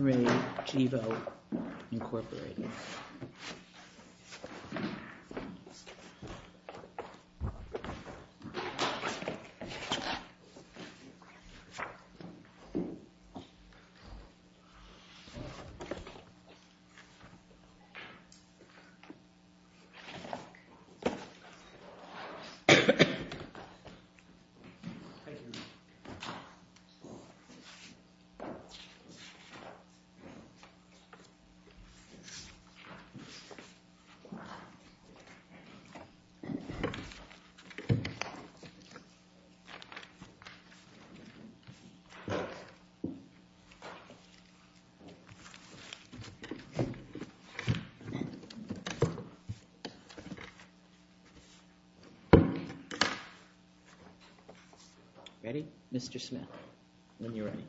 Re Gevo, Inc. Mr. Smith, when you're ready.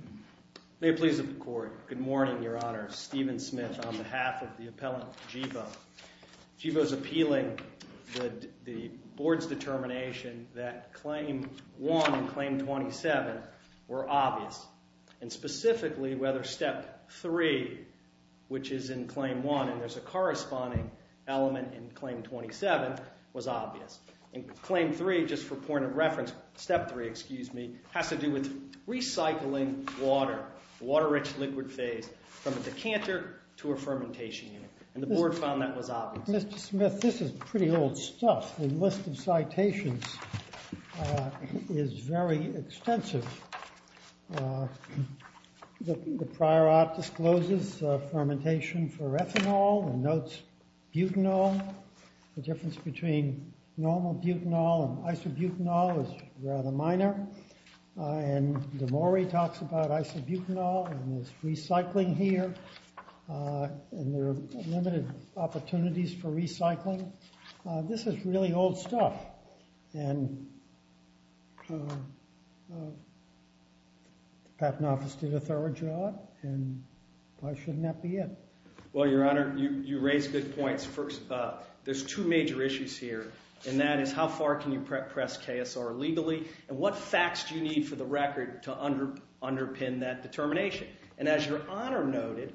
May it please the Court. Good morning, Your Honor. Stephen Smith on behalf of the appellant Gevo. Gevo is appealing the Board's determination that Claim 1 and Claim 27 were obvious. And specifically, whether Step 3, which is in Claim 1, and there's a corresponding element in Claim 27, was obvious. And Claim 3, just for point of reference, Step 3, excuse me, has to do with recycling water, the water-rich liquid phase, from a decanter to a fermentation unit. And the Board found that was obvious. Mr. Smith, this is pretty old stuff. The list of citations is very extensive. The prior op discloses fermentation for ethanol and notes butanol. The difference between normal butanol and isobutanol is rather minor. And De Mori talks about isobutanol and there's recycling here, and there are limited opportunities for recycling. This is really old stuff. And the Patent Office did a thorough job, and why shouldn't that be it? Well, Your Honor, you raise good points. There's two major issues here, and that is how far can you press KSR illegally, and what facts do you need for the record to underpin that determination? And as Your Honor noted,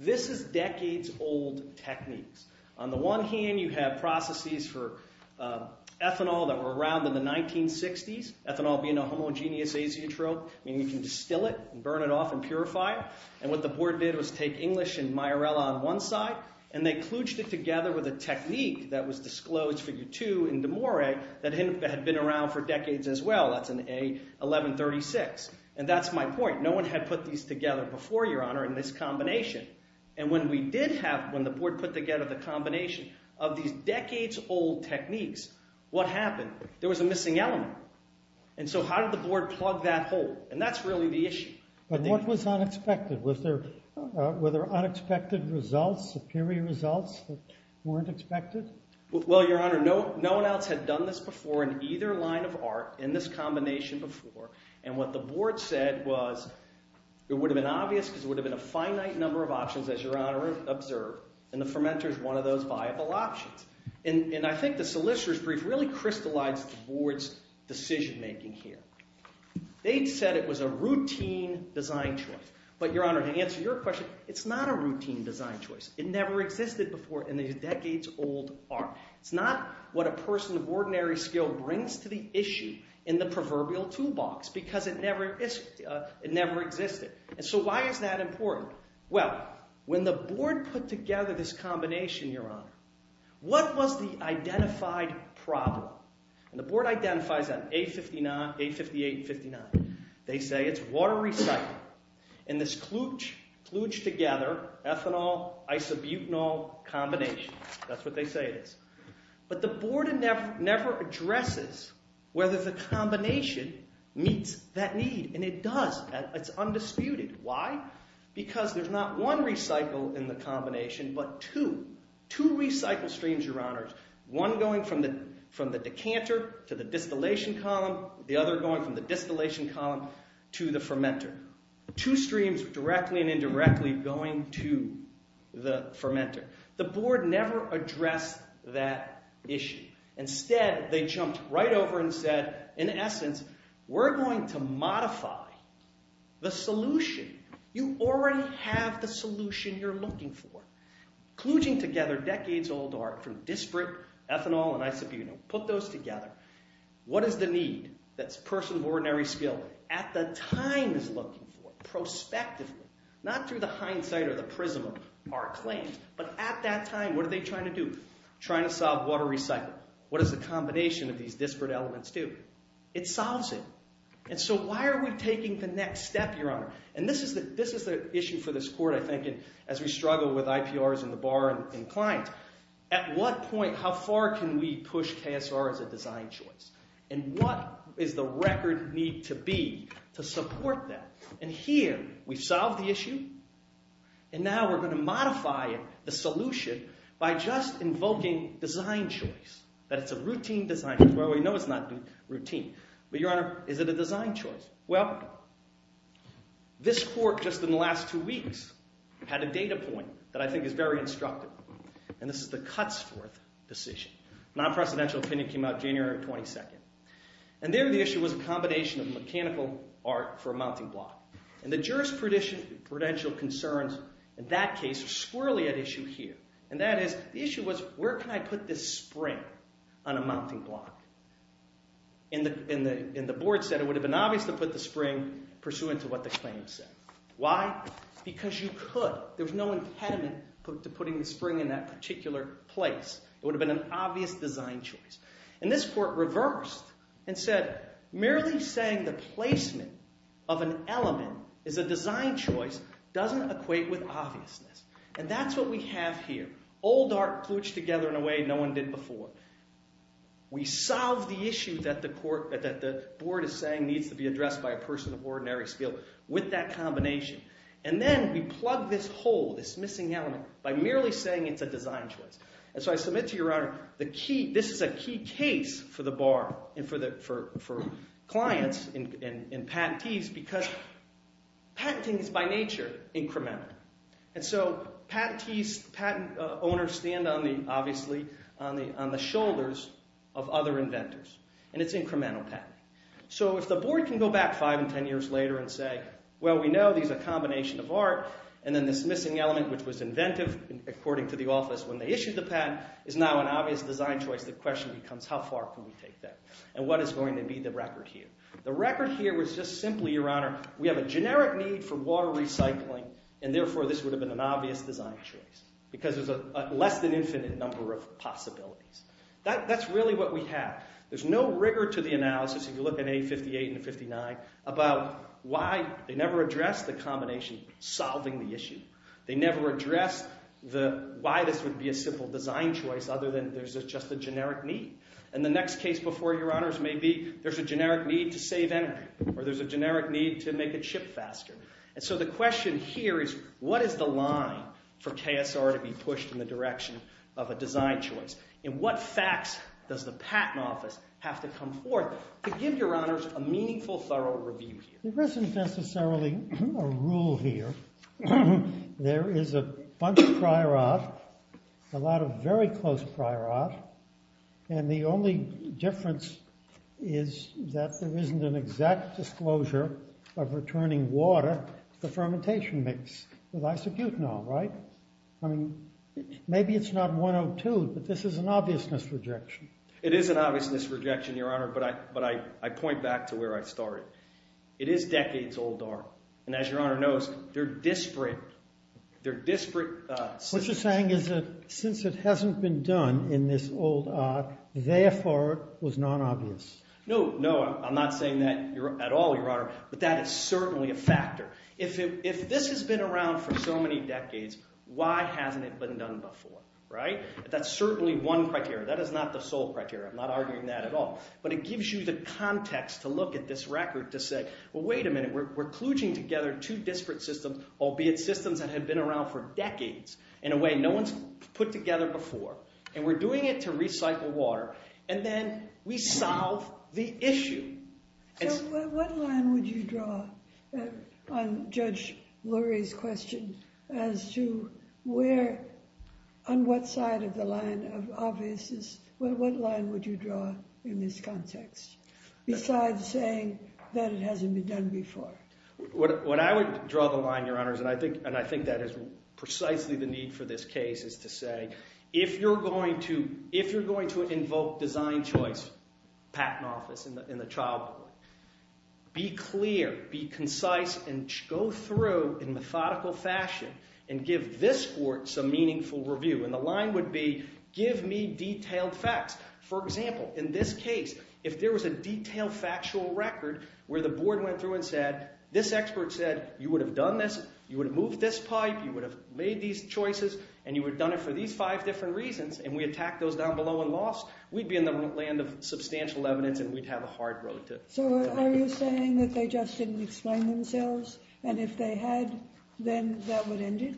this is decades-old techniques. On the one hand, you have processes for ethanol that were around in the 1960s. Ethanol being a homogeneous azeotrope, meaning you can distill it and burn it off and purify it. And what the Board did was take English and Mayarela on one side, and they kludged it together with a technique that was disclosed, Figure 2, in De Mori that had been around for decades as well. That's in A1136. And that's my point. No one had put these together before, Your Honor, in this combination. And when we did have, when the Board put together the combination of these decades-old techniques, what happened? There was a missing element. And so how did the Board plug that hole? And that's really the issue. But what was unexpected? Were there unexpected results, superior results that weren't expected? Well, Your Honor, no one else had done this before in either line of art in this combination before. And what the Board said was it would have been obvious because it would have been a finite number of options, as Your Honor observed. And the fermenter is one of those viable options. And I think the solicitor's brief really crystallized the Board's decision-making here. They said it was a routine design choice. But, Your Honor, to answer your question, it's not a routine design choice. It never existed before in the decades-old art. It's not what a person of ordinary skill brings to the issue in the proverbial toolbox because it never existed. And so why is that important? Well, when the Board put together this combination, Your Honor, what was the identified problem? And the Board identifies that A58-59. They say it's water recycle. And this kluge together, ethanol-isobutanol combination. That's what they say it is. But the Board never addresses whether the combination meets that need. And it does. It's undisputed. Why? Because there's not one recycle in the combination but two. Two recycle streams, Your Honor. One going from the decanter to the distillation column. The other going from the distillation column to the fermenter. Two streams, directly and indirectly, going to the fermenter. The Board never addressed that issue. Instead, they jumped right over and said, in essence, we're going to modify the solution. You already have the solution you're looking for. Kluging together decades-old art from disparate ethanol and isobutanol. Put those together. What is the need that's person of ordinary skill, at the time, is looking for, prospectively? Not through the hindsight or the prism of our claims. But at that time, what are they trying to do? Trying to solve water recycle. What does the combination of these disparate elements do? It solves it. And so why are we taking the next step, Your Honor? And this is the issue for this Court, I think, as we struggle with IPRs in the Bar and clients. At what point, how far can we push KSR as a design choice? And what does the record need to be to support that? And here, we've solved the issue. And now we're going to modify the solution by just invoking design choice. That it's a routine design choice. Well, we know it's not routine. But, Your Honor, is it a design choice? Well, this Court, just in the last two weeks, had a data point that I think is very instructive. And this is the Cutsforth decision. Non-precedential opinion came out January 22nd. And there, the issue was a combination of mechanical art for a mounting block. And the jurisprudential concerns in that case are squirrelly at issue here. And that is, the issue was, where can I put this spring on a mounting block? And the board said it would have been obvious to put the spring pursuant to what the claim said. Why? Because you could. But, there's no impediment to putting the spring in that particular place. It would have been an obvious design choice. And this Court reversed and said, merely saying the placement of an element is a design choice doesn't equate with obviousness. And that's what we have here. Old art, pooched together in a way no one did before. We solve the issue that the board is saying needs to be addressed by a person of ordinary skill with that combination. And then, we plug this hole, this missing element by merely saying it's a design choice. And so, I submit to your Honor, this is a key case for the Bar, and for clients and patentees, because patenting is, by nature, incremental. And so, patentees, patent owners, stand, obviously, on the shoulders of other inventors. And it's incremental patenting. So, if the board can go back 5 and 10 years later and say, well, we know these are a combination of art, and then this missing element, which was inventive, according to the office when they issued the patent, is now an obvious design choice, the question becomes, how far can we take that? And what is going to be the record here? The record here was just simply, your Honor, we have a generic need for water recycling, and therefore, this would have been an obvious design choice. Because there's a less than infinite number of possibilities. That's really what we have. There's no rigor to the analysis, if you look at A58 and 59, about why they never address the combination solving the issue. They never address why this would be a simple design choice other than there's just a generic need. And the next case before you, Your Honors, may be there's a generic need to save energy. Or there's a generic need to make it ship faster. And so the question here is, what is the line for KSR to be pushed in the direction of a design choice? And what facts does the patent office have to come forth to give, Your Honors, a meaningful, thorough review? There isn't necessarily a rule here. There is a bunch of prior art, a lot of very close prior art, and the only difference is that there isn't an exact disclosure of returning water to the fermentation mix with isobutanol, right? I mean, maybe it's not 102, but this is an obvious misrejection. It is an obvious misrejection, Your Honor, but I point back to where I started. It is decades old art. And as Your Honor knows, they're disparate. What you're saying is that since it hasn't been done in this old art, therefore it was non-obvious. No, no, I'm not saying that at all, Your Honor. But that is certainly a factor. If this has been around for so many decades, why hasn't it been done before, right? That's certainly one criteria. That is not the sole criteria. I'm not arguing that at all. But it gives you the context to look at this record to say, well, wait a minute. We're kludging together two disparate systems, albeit systems that have been around for decades. In a way, no one's put together before. And we're doing it to recycle water. And then we solve the issue. So what line would you draw on Judge Lurie's question as to where, on what side of the line of obviousness, what line would you draw in this context besides saying that it hasn't been done before? What I would draw the line, Your Honors, and I think that is precisely the need for this case, is to say, if you're going to invoke design choice, patent office, in the child court, be clear, be concise, and go through in methodical fashion and give this court some meaningful review. And the line would be, give me detailed facts. For example, in this case, if there was a detailed factual record where the board went through and said, this expert said, you would have done this, you would have moved this pipe, you would have made these choices, and you would have done it for these five different reasons, and we attacked those down below and lost, we'd be in the land of substantial evidence and we'd have a hard road to... So are you saying that they just didn't explain themselves? And if they had, then that would end it?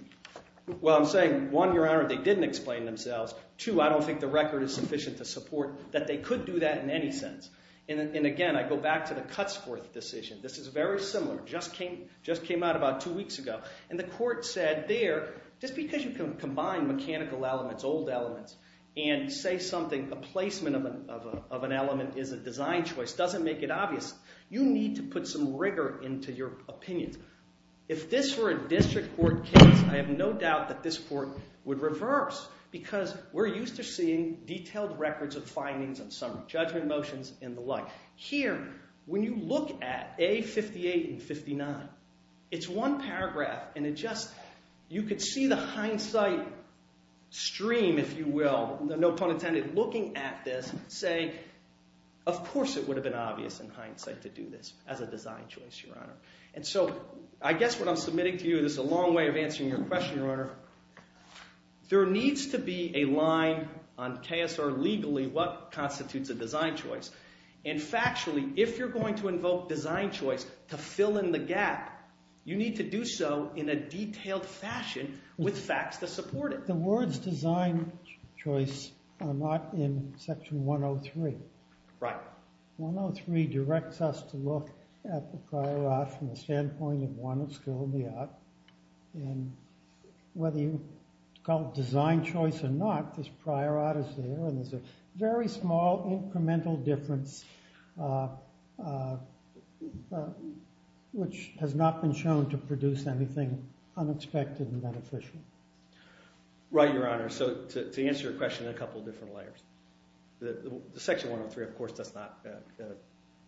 Well, I'm saying, one, Your Honor, they didn't explain themselves. Two, I don't think the record is sufficient to support that they could do that in any sense. And again, I go back to the Cutsforth decision. This is very similar, just came out about two weeks ago. And the court said there, just because you can combine mechanical elements, old elements, and say something, a placement of an element is a design choice, doesn't make it obvious. You need to put some rigor into your opinions. If this were a district court case, I have no doubt that this court would reverse, because we're used to seeing detailed records of findings and some judgment motions and the like. Here, when you look at A58 and 59, it's one paragraph, and it just... You could see the hindsight stream, if you will, no pun intended, looking at this, saying, of course it would have been obvious in hindsight to do this as a design choice, Your Honor. And so I guess what I'm submitting to you, this is a long way of answering your question, Your Honor, there needs to be a line on KSR legally what constitutes a design choice. And factually, if you're going to invoke design choice to fill in the gap, you need to do so in a detailed fashion with facts to support it. The words design choice are not in Section 103. Right. 103 directs us to look at the prior art from the standpoint of one of skill in the art. And whether you call it design choice or not, this prior art is there, and there's a very small incremental difference which has not been shown to produce anything unexpected and beneficial. Right, Your Honor. So to answer your question in a couple of different layers. The Section 103, of course, does not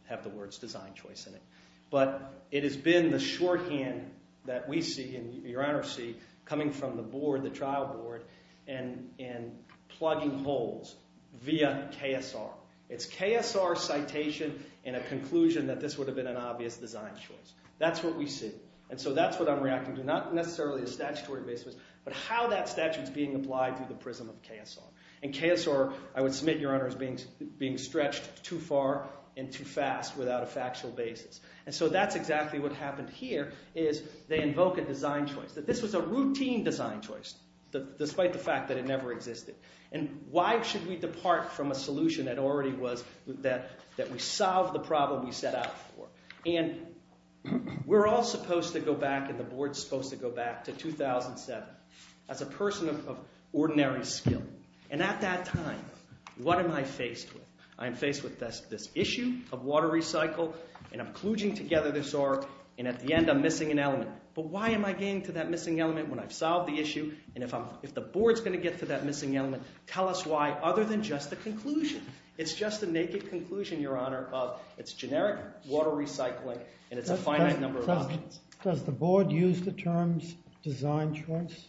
have the words design choice in it. But it has been the shorthand that we see, and Your Honor see, coming from the board, the trial board, and plugging holes via KSR. It's KSR citation in a conclusion that this would have been an obvious design choice. That's what we see. And so that's what I'm reacting to. Not necessarily a statutory basis, but how that statute's being applied through the prism of KSR. And KSR, I would submit, Your Honor, is being stretched too far and too fast without a factual basis. And so that's exactly what happened here, is they invoke a design choice. That this was a routine design choice, despite the fact that it never existed. And why should we depart from a solution that already was, that we solved the problem we set out for. And we're all supposed to go back, and the board's supposed to go back to 2007 as a person of ordinary skill. And at that time, what am I faced with? I am faced with this issue of water recycle, and I'm kluging together this R, and at the end I'm missing an element. But why am I getting to that missing element when I've solved the issue, and if the board's going to get to that missing element, tell us why, other than just the conclusion. It's just a naked conclusion, Your Honor, of it's generic water recycling, and it's a finite number of places. Does the board use the terms design choice?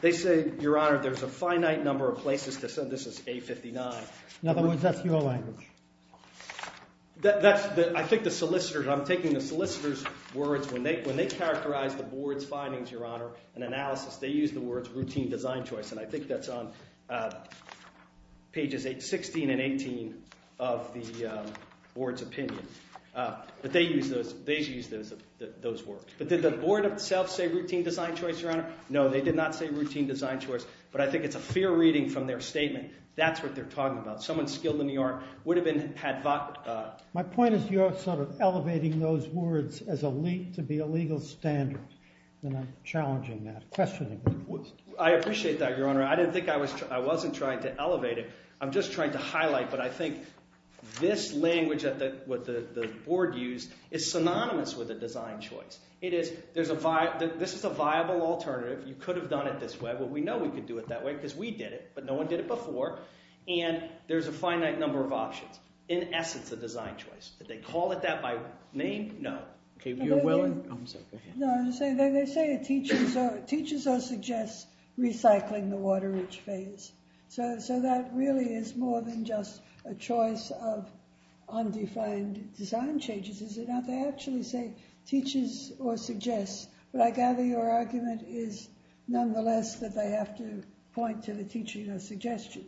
They say, Your Honor, there's a finite number of places to say this is A-59. In other words, that's your language. I'm taking the solicitor's words. When they characterize the board's findings, Your Honor, and analysis, they use the words routine design choice, and I think that's on pages 16 and 18 of the board's opinion. But they use those words. But did the board itself say routine design choice, Your Honor? No, they did not say routine design choice. But I think it's a fair reading from their statement. That's what they're talking about. Someone skilled in the art would have had... My point is you're sort of elevating those words to be a legal standard, and I'm challenging that, questioning that. I appreciate that, Your Honor. I didn't think I was... I wasn't trying to elevate it. I'm just trying to highlight, but I think this language that the board used is synonymous with a design choice. This is a viable alternative. You could have done it this way. Well, we know we could do it that way because we did it, but no one did it before, and there's a finite number of options. In essence, a design choice. Did they call it that by name? No. You're willing... I'm sorry, go ahead. No, they say it teaches or suggests recycling the water-rich phase. So that really is more than just a choice of undefined design changes, is it not? They actually say teaches or suggests. But I gather your argument is nonetheless that they have to point to the teaching or suggestion.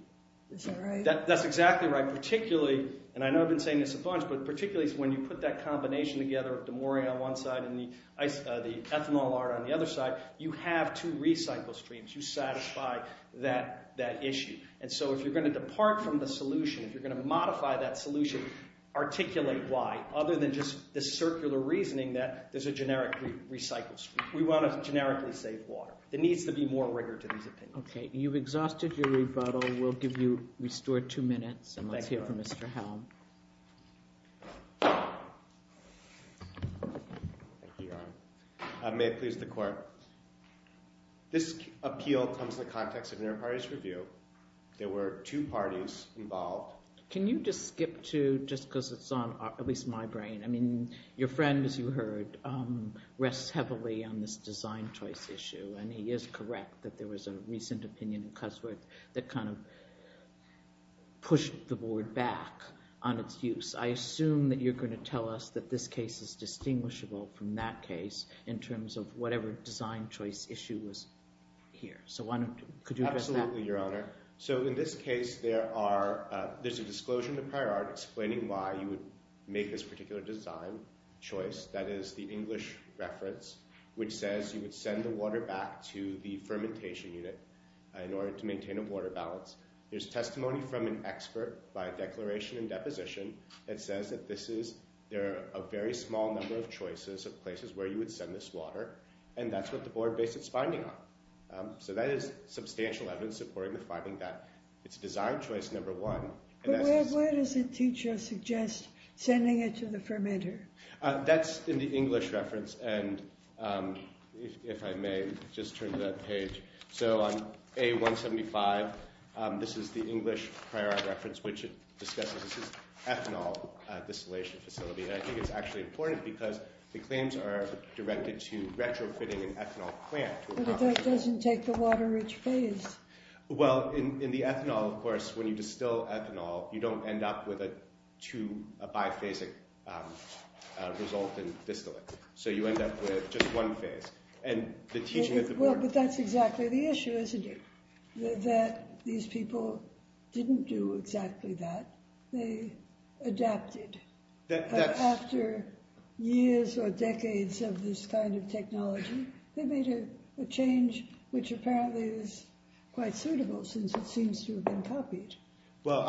Is that right? That's exactly right. Particularly, and I know I've been saying this a bunch, but particularly when you put that combination together of DeMoria on one side and the ethanol art on the other side, you have two recycle streams. You satisfy that issue. And so if you're going to depart from the solution, if you're going to modify that solution, articulate why, other than just the circular reasoning that there's a generic recycle stream. We want to generically save water. There needs to be more rigor to these opinions. Okay, you've exhausted your rebuttal. We'll give you, restore two minutes, and let's hear from Mr. Helm. Thank you, Your Honor. May it please the Court. This appeal comes in the context of an inter-parties review. There were two parties involved. Can you just skip to, just because it's on at least my brain, I mean, your friend, as you heard, rests heavily on this design choice issue, and he is correct that there was a recent opinion in Cusworth that kind of pushed the Board back on its use. I assume that you're going to tell us that this case is distinguishable from that case in terms of whatever design choice issue was here. So could you address that? Absolutely, Your Honor. So in this case, there's a disclosure in the prior art explaining why you would make this particular design choice, that is, the English reference, which says you would send the water back to the fermentation unit in order to maintain a water balance. There's testimony from an expert by declaration and deposition that says that this is, there are a very small number of choices of places where you would send this water, and that's what the Board based its finding on. So that is substantial evidence supporting the finding that it's design choice number one. But where does the teacher suggest sending it to the fermenter? That's in the English reference. And if I may, just turn to that page. So on A175, this is the English prior art reference, which discusses this ethanol distillation facility. And I think it's actually important because the claims are directed to retrofitting an ethanol plant. But it doesn't take the water-rich phase. Well, in the ethanol, of course, when you distill ethanol, you don't end up with a two, a biphasic result in distilling. So you end up with just one phase. And the teaching at the Board... Well, but that's exactly the issue, isn't it? That these people didn't do exactly that. They adapted. After years or decades of this kind of technology, they made a change which apparently is quite suitable since it seems to have been copied. Well,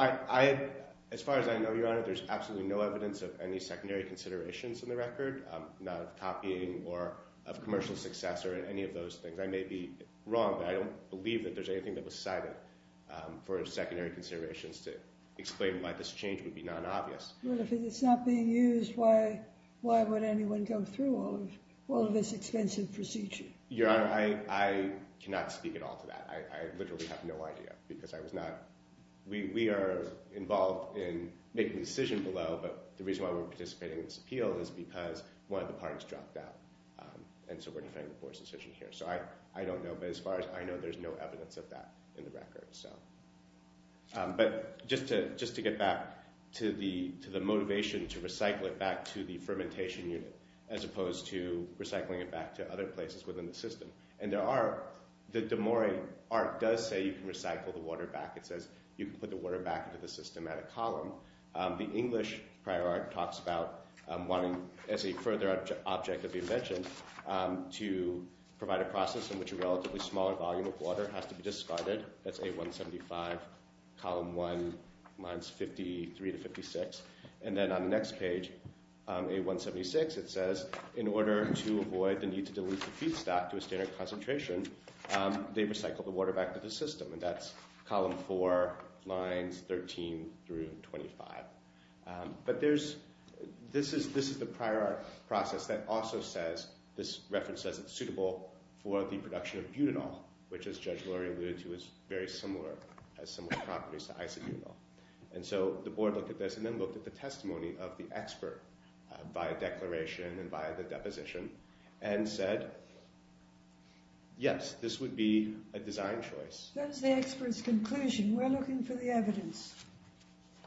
as far as I know, Your Honor, there's absolutely no evidence of any secondary considerations in the record, not of copying or of commercial success or any of those things. I may be wrong, but I don't believe that there's anything that was cited for secondary considerations to explain why this change would be non-obvious. Well, if it's not being used, why would anyone go through all of this expensive procedure? Your Honor, I cannot speak at all to that. I literally have no idea because I was not... We are involved in making the decision below, but the reason why we're participating in this appeal is because one of the parts dropped out, and so we're defending the Board's decision here. So I don't know. But as far as I know, there's no evidence of that in the record. But just to get back to the motivation to recycle it back to the fermentation unit as opposed to recycling it back to other places within the system. And there are... The De Mori art does say you can recycle the water back. It says you can put the water back into the system at a column. The English prior art talks about wanting, as a further object of the invention, to provide a process in which a relatively smaller volume of water has to be discarded. That's A175, column 1, lines 53 to 56. And then on the next page, A176, it says, in order to avoid the need to dilute the feedstock to a standard concentration, they recycle the water back to the system. And that's column 4, lines 13 through 25. But there's... This is the prior art process that also says, this reference says it's suitable for the production of butanol, which, as Judge Lurie alluded to, is very similar, has similar properties to isobutanol. And so the Board looked at this and then looked at the testimony of the expert, by declaration and by the deposition, and said, yes, this would be a design choice. That's the expert's conclusion. We're looking for the evidence.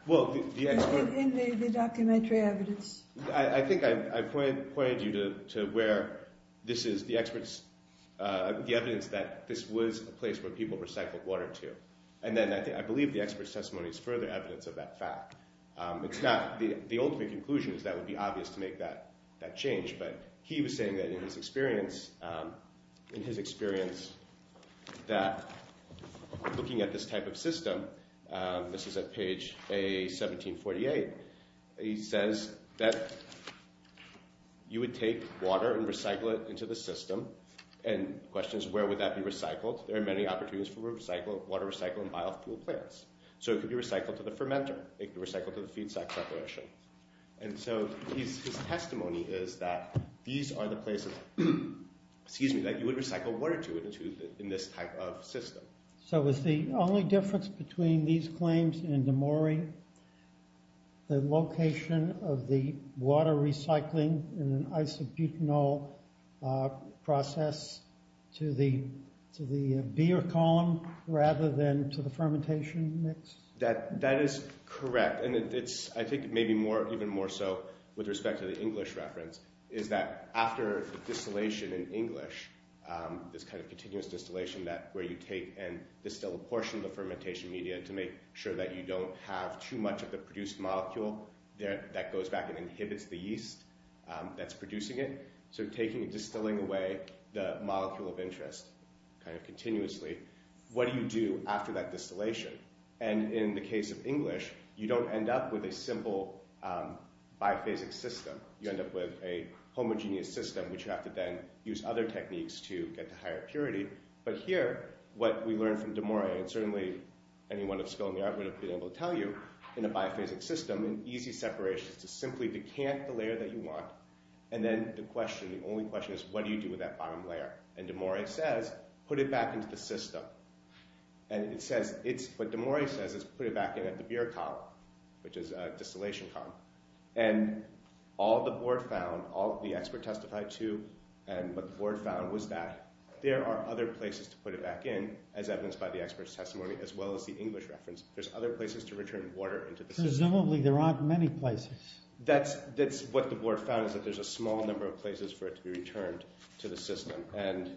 Well, the expert... In the documentary evidence. I think I pointed you to where this is the expert's... The evidence that this was a place where people recycled water to. And then I believe the expert's testimony is further evidence of that fact. It's not the ultimate conclusion, because that would be obvious to make that change. But he was saying that in his experience, in his experience that looking at this type of system, this is at page A1748, he says that you would take water and recycle it into the system. And the question is, where would that be recycled? There are many opportunities for water recycle in biofuel plants. So it could be recycled to the fermenter. It could be recycled to the feedstock separation. And so his testimony is that these are the places... Excuse me, that you would recycle water to in this type of system. So is the only difference between these claims and DeMaury, the location of the water recycling in an isobutanol process to the beer column rather than to the fermentation mix? That is correct. And I think it may be even more so with respect to the English reference, is that after the distillation in English, this kind of continuous distillation where you take and distill a portion of the fermentation media to make sure that you don't have too much of the produced molecule that goes back and inhibits the yeast that's producing it. So taking and distilling away the molecule of interest kind of continuously, what do you do after that distillation? And in the case of English, you don't end up with a simple biophasic system. You end up with a homogeneous system, which you have to then use other techniques to get to higher purity. But here, what we learned from DeMaury, and certainly anyone of skill in the art would have been able to tell you, in a biophasic system, in easy separation, is to simply decant the layer that you want, and then the question, the only question is, what do you do with that bottom layer? And DeMaury says, put it back into the system. And it says, what DeMaury says is, put it back in at the beer column, which is a distillation column. And all the board found, all the expert testified to, and what the board found was that there are other places to put it back in, as evidenced by the expert's testimony, as well as the English reference. There's other places to return water into the system. Presumably there aren't many places. That's what the board found, is that there's a small number of places for it to be returned to the system. And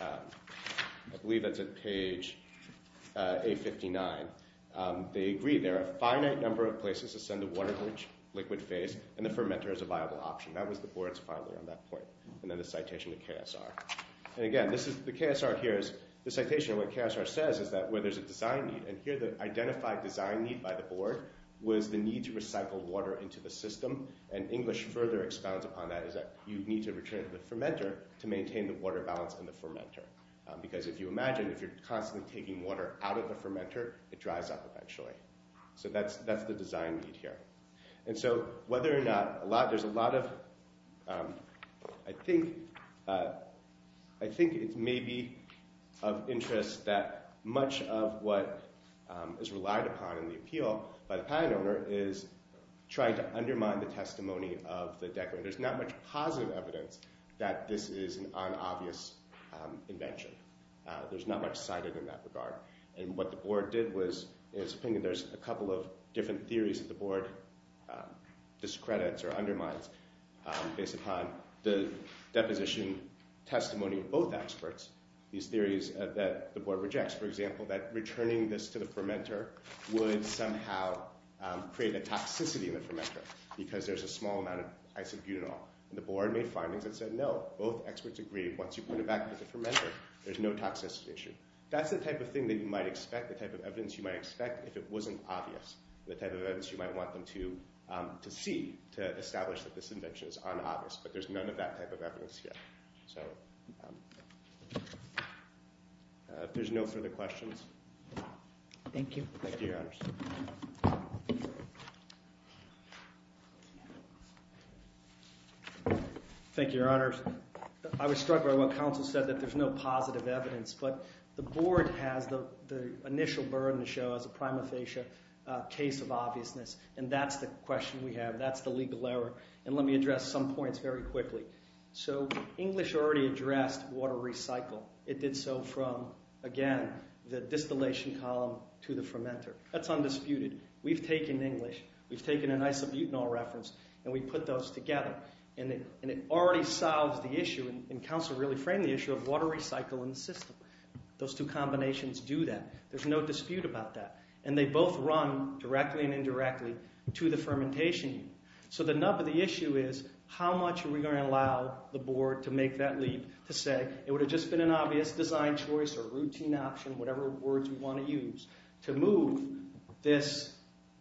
I believe that's at page 859. They agreed there are a finite number of places to send the water to the liquid phase, and the fermenter is a viable option. That was the board's finding at that point. And then the citation to KSR. And again, the KSR here is, the citation of what KSR says is that where there's a design need, and here the identified design need by the board was the need to recycle water into the system. And English further expounds upon that, is that you need to return it to the fermenter to maintain the water balance in the fermenter. Because if you imagine, if you're constantly taking water out of the fermenter, it dries up eventually. So that's the design need here. And so whether or not, there's a lot of, I think it may be of interest that much of what is relied upon in the appeal by the pine owner is trying to undermine the testimony of the decorator. There's not much positive evidence that this is an unobvious invention. There's not much cited in that regard. And what the board did was, in its opinion, there's a couple of different theories that the board discredits or undermines based upon the deposition testimony of both experts. These theories that the board rejects, for example, that returning this to the fermenter would somehow create a toxicity in the fermenter because there's a small amount of isobutanol. And the board made findings that said, no, both experts agree. Once you put it back into the fermenter, there's no toxicity issue. That's the type of thing that you might expect, the type of evidence you might expect if it wasn't obvious, the type of evidence you might want them to see to establish that this invention is unobvious. But there's none of that type of evidence here. So if there's no further questions. Thank you. Thank you, Your Honors. Thank you, Your Honors. I was struck by what counsel said, that there's no positive evidence. But the board has the initial burden to show as a prima facie case of obviousness. And that's the question we have. That's the legal error. And let me address some points very quickly. So English already addressed water recycle. It did so from, again, the distillation column to the fermenter. That's undisputed. We've taken English, we've taken an isobutanol reference, and we put those together. And it already solves the issue, and counsel really framed the issue, of water recycle in the system. Those two combinations do that. There's no dispute about that. And they both run directly and indirectly to the fermentation unit. So the nub of the issue is, how much are we going to allow the board to make that leap to say, it would have just been an obvious design choice or routine option, whatever words you want to use, to move this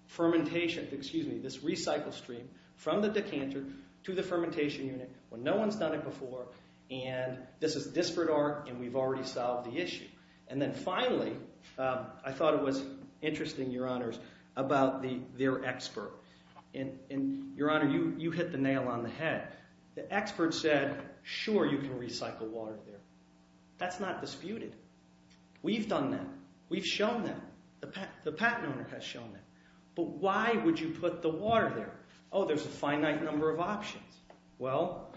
fermentation, excuse me, this recycle stream from the decanter to the fermentation unit when no one's done it before. And this is disparate art, and we've already solved the issue. And then finally, I thought it was interesting, Your Honors, about their expert. And, Your Honor, you hit the nail on the head. The expert said, sure, you can recycle water there. That's not disputed. We've done that. We've shown that. The patent owner has shown that. But why would you put the water there? Oh, there's a finite number of options. Well,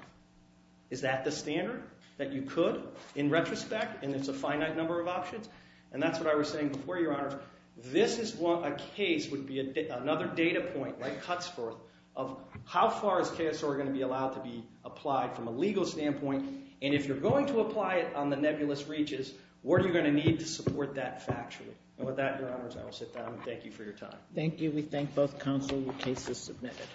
is that the standard, that you could, in retrospect, and it's a finite number of options? And that's what I was saying before, Your Honors. This is what a case would be. Another data point cuts forth of how far is KSR going to be allowed to be applied from a legal standpoint. And if you're going to apply it on the nebulous reaches, what are you going to need to support that factually? And with that, Your Honors, I will sit down and thank you for your time. Thank you. We thank both counsel. Your case is submitted.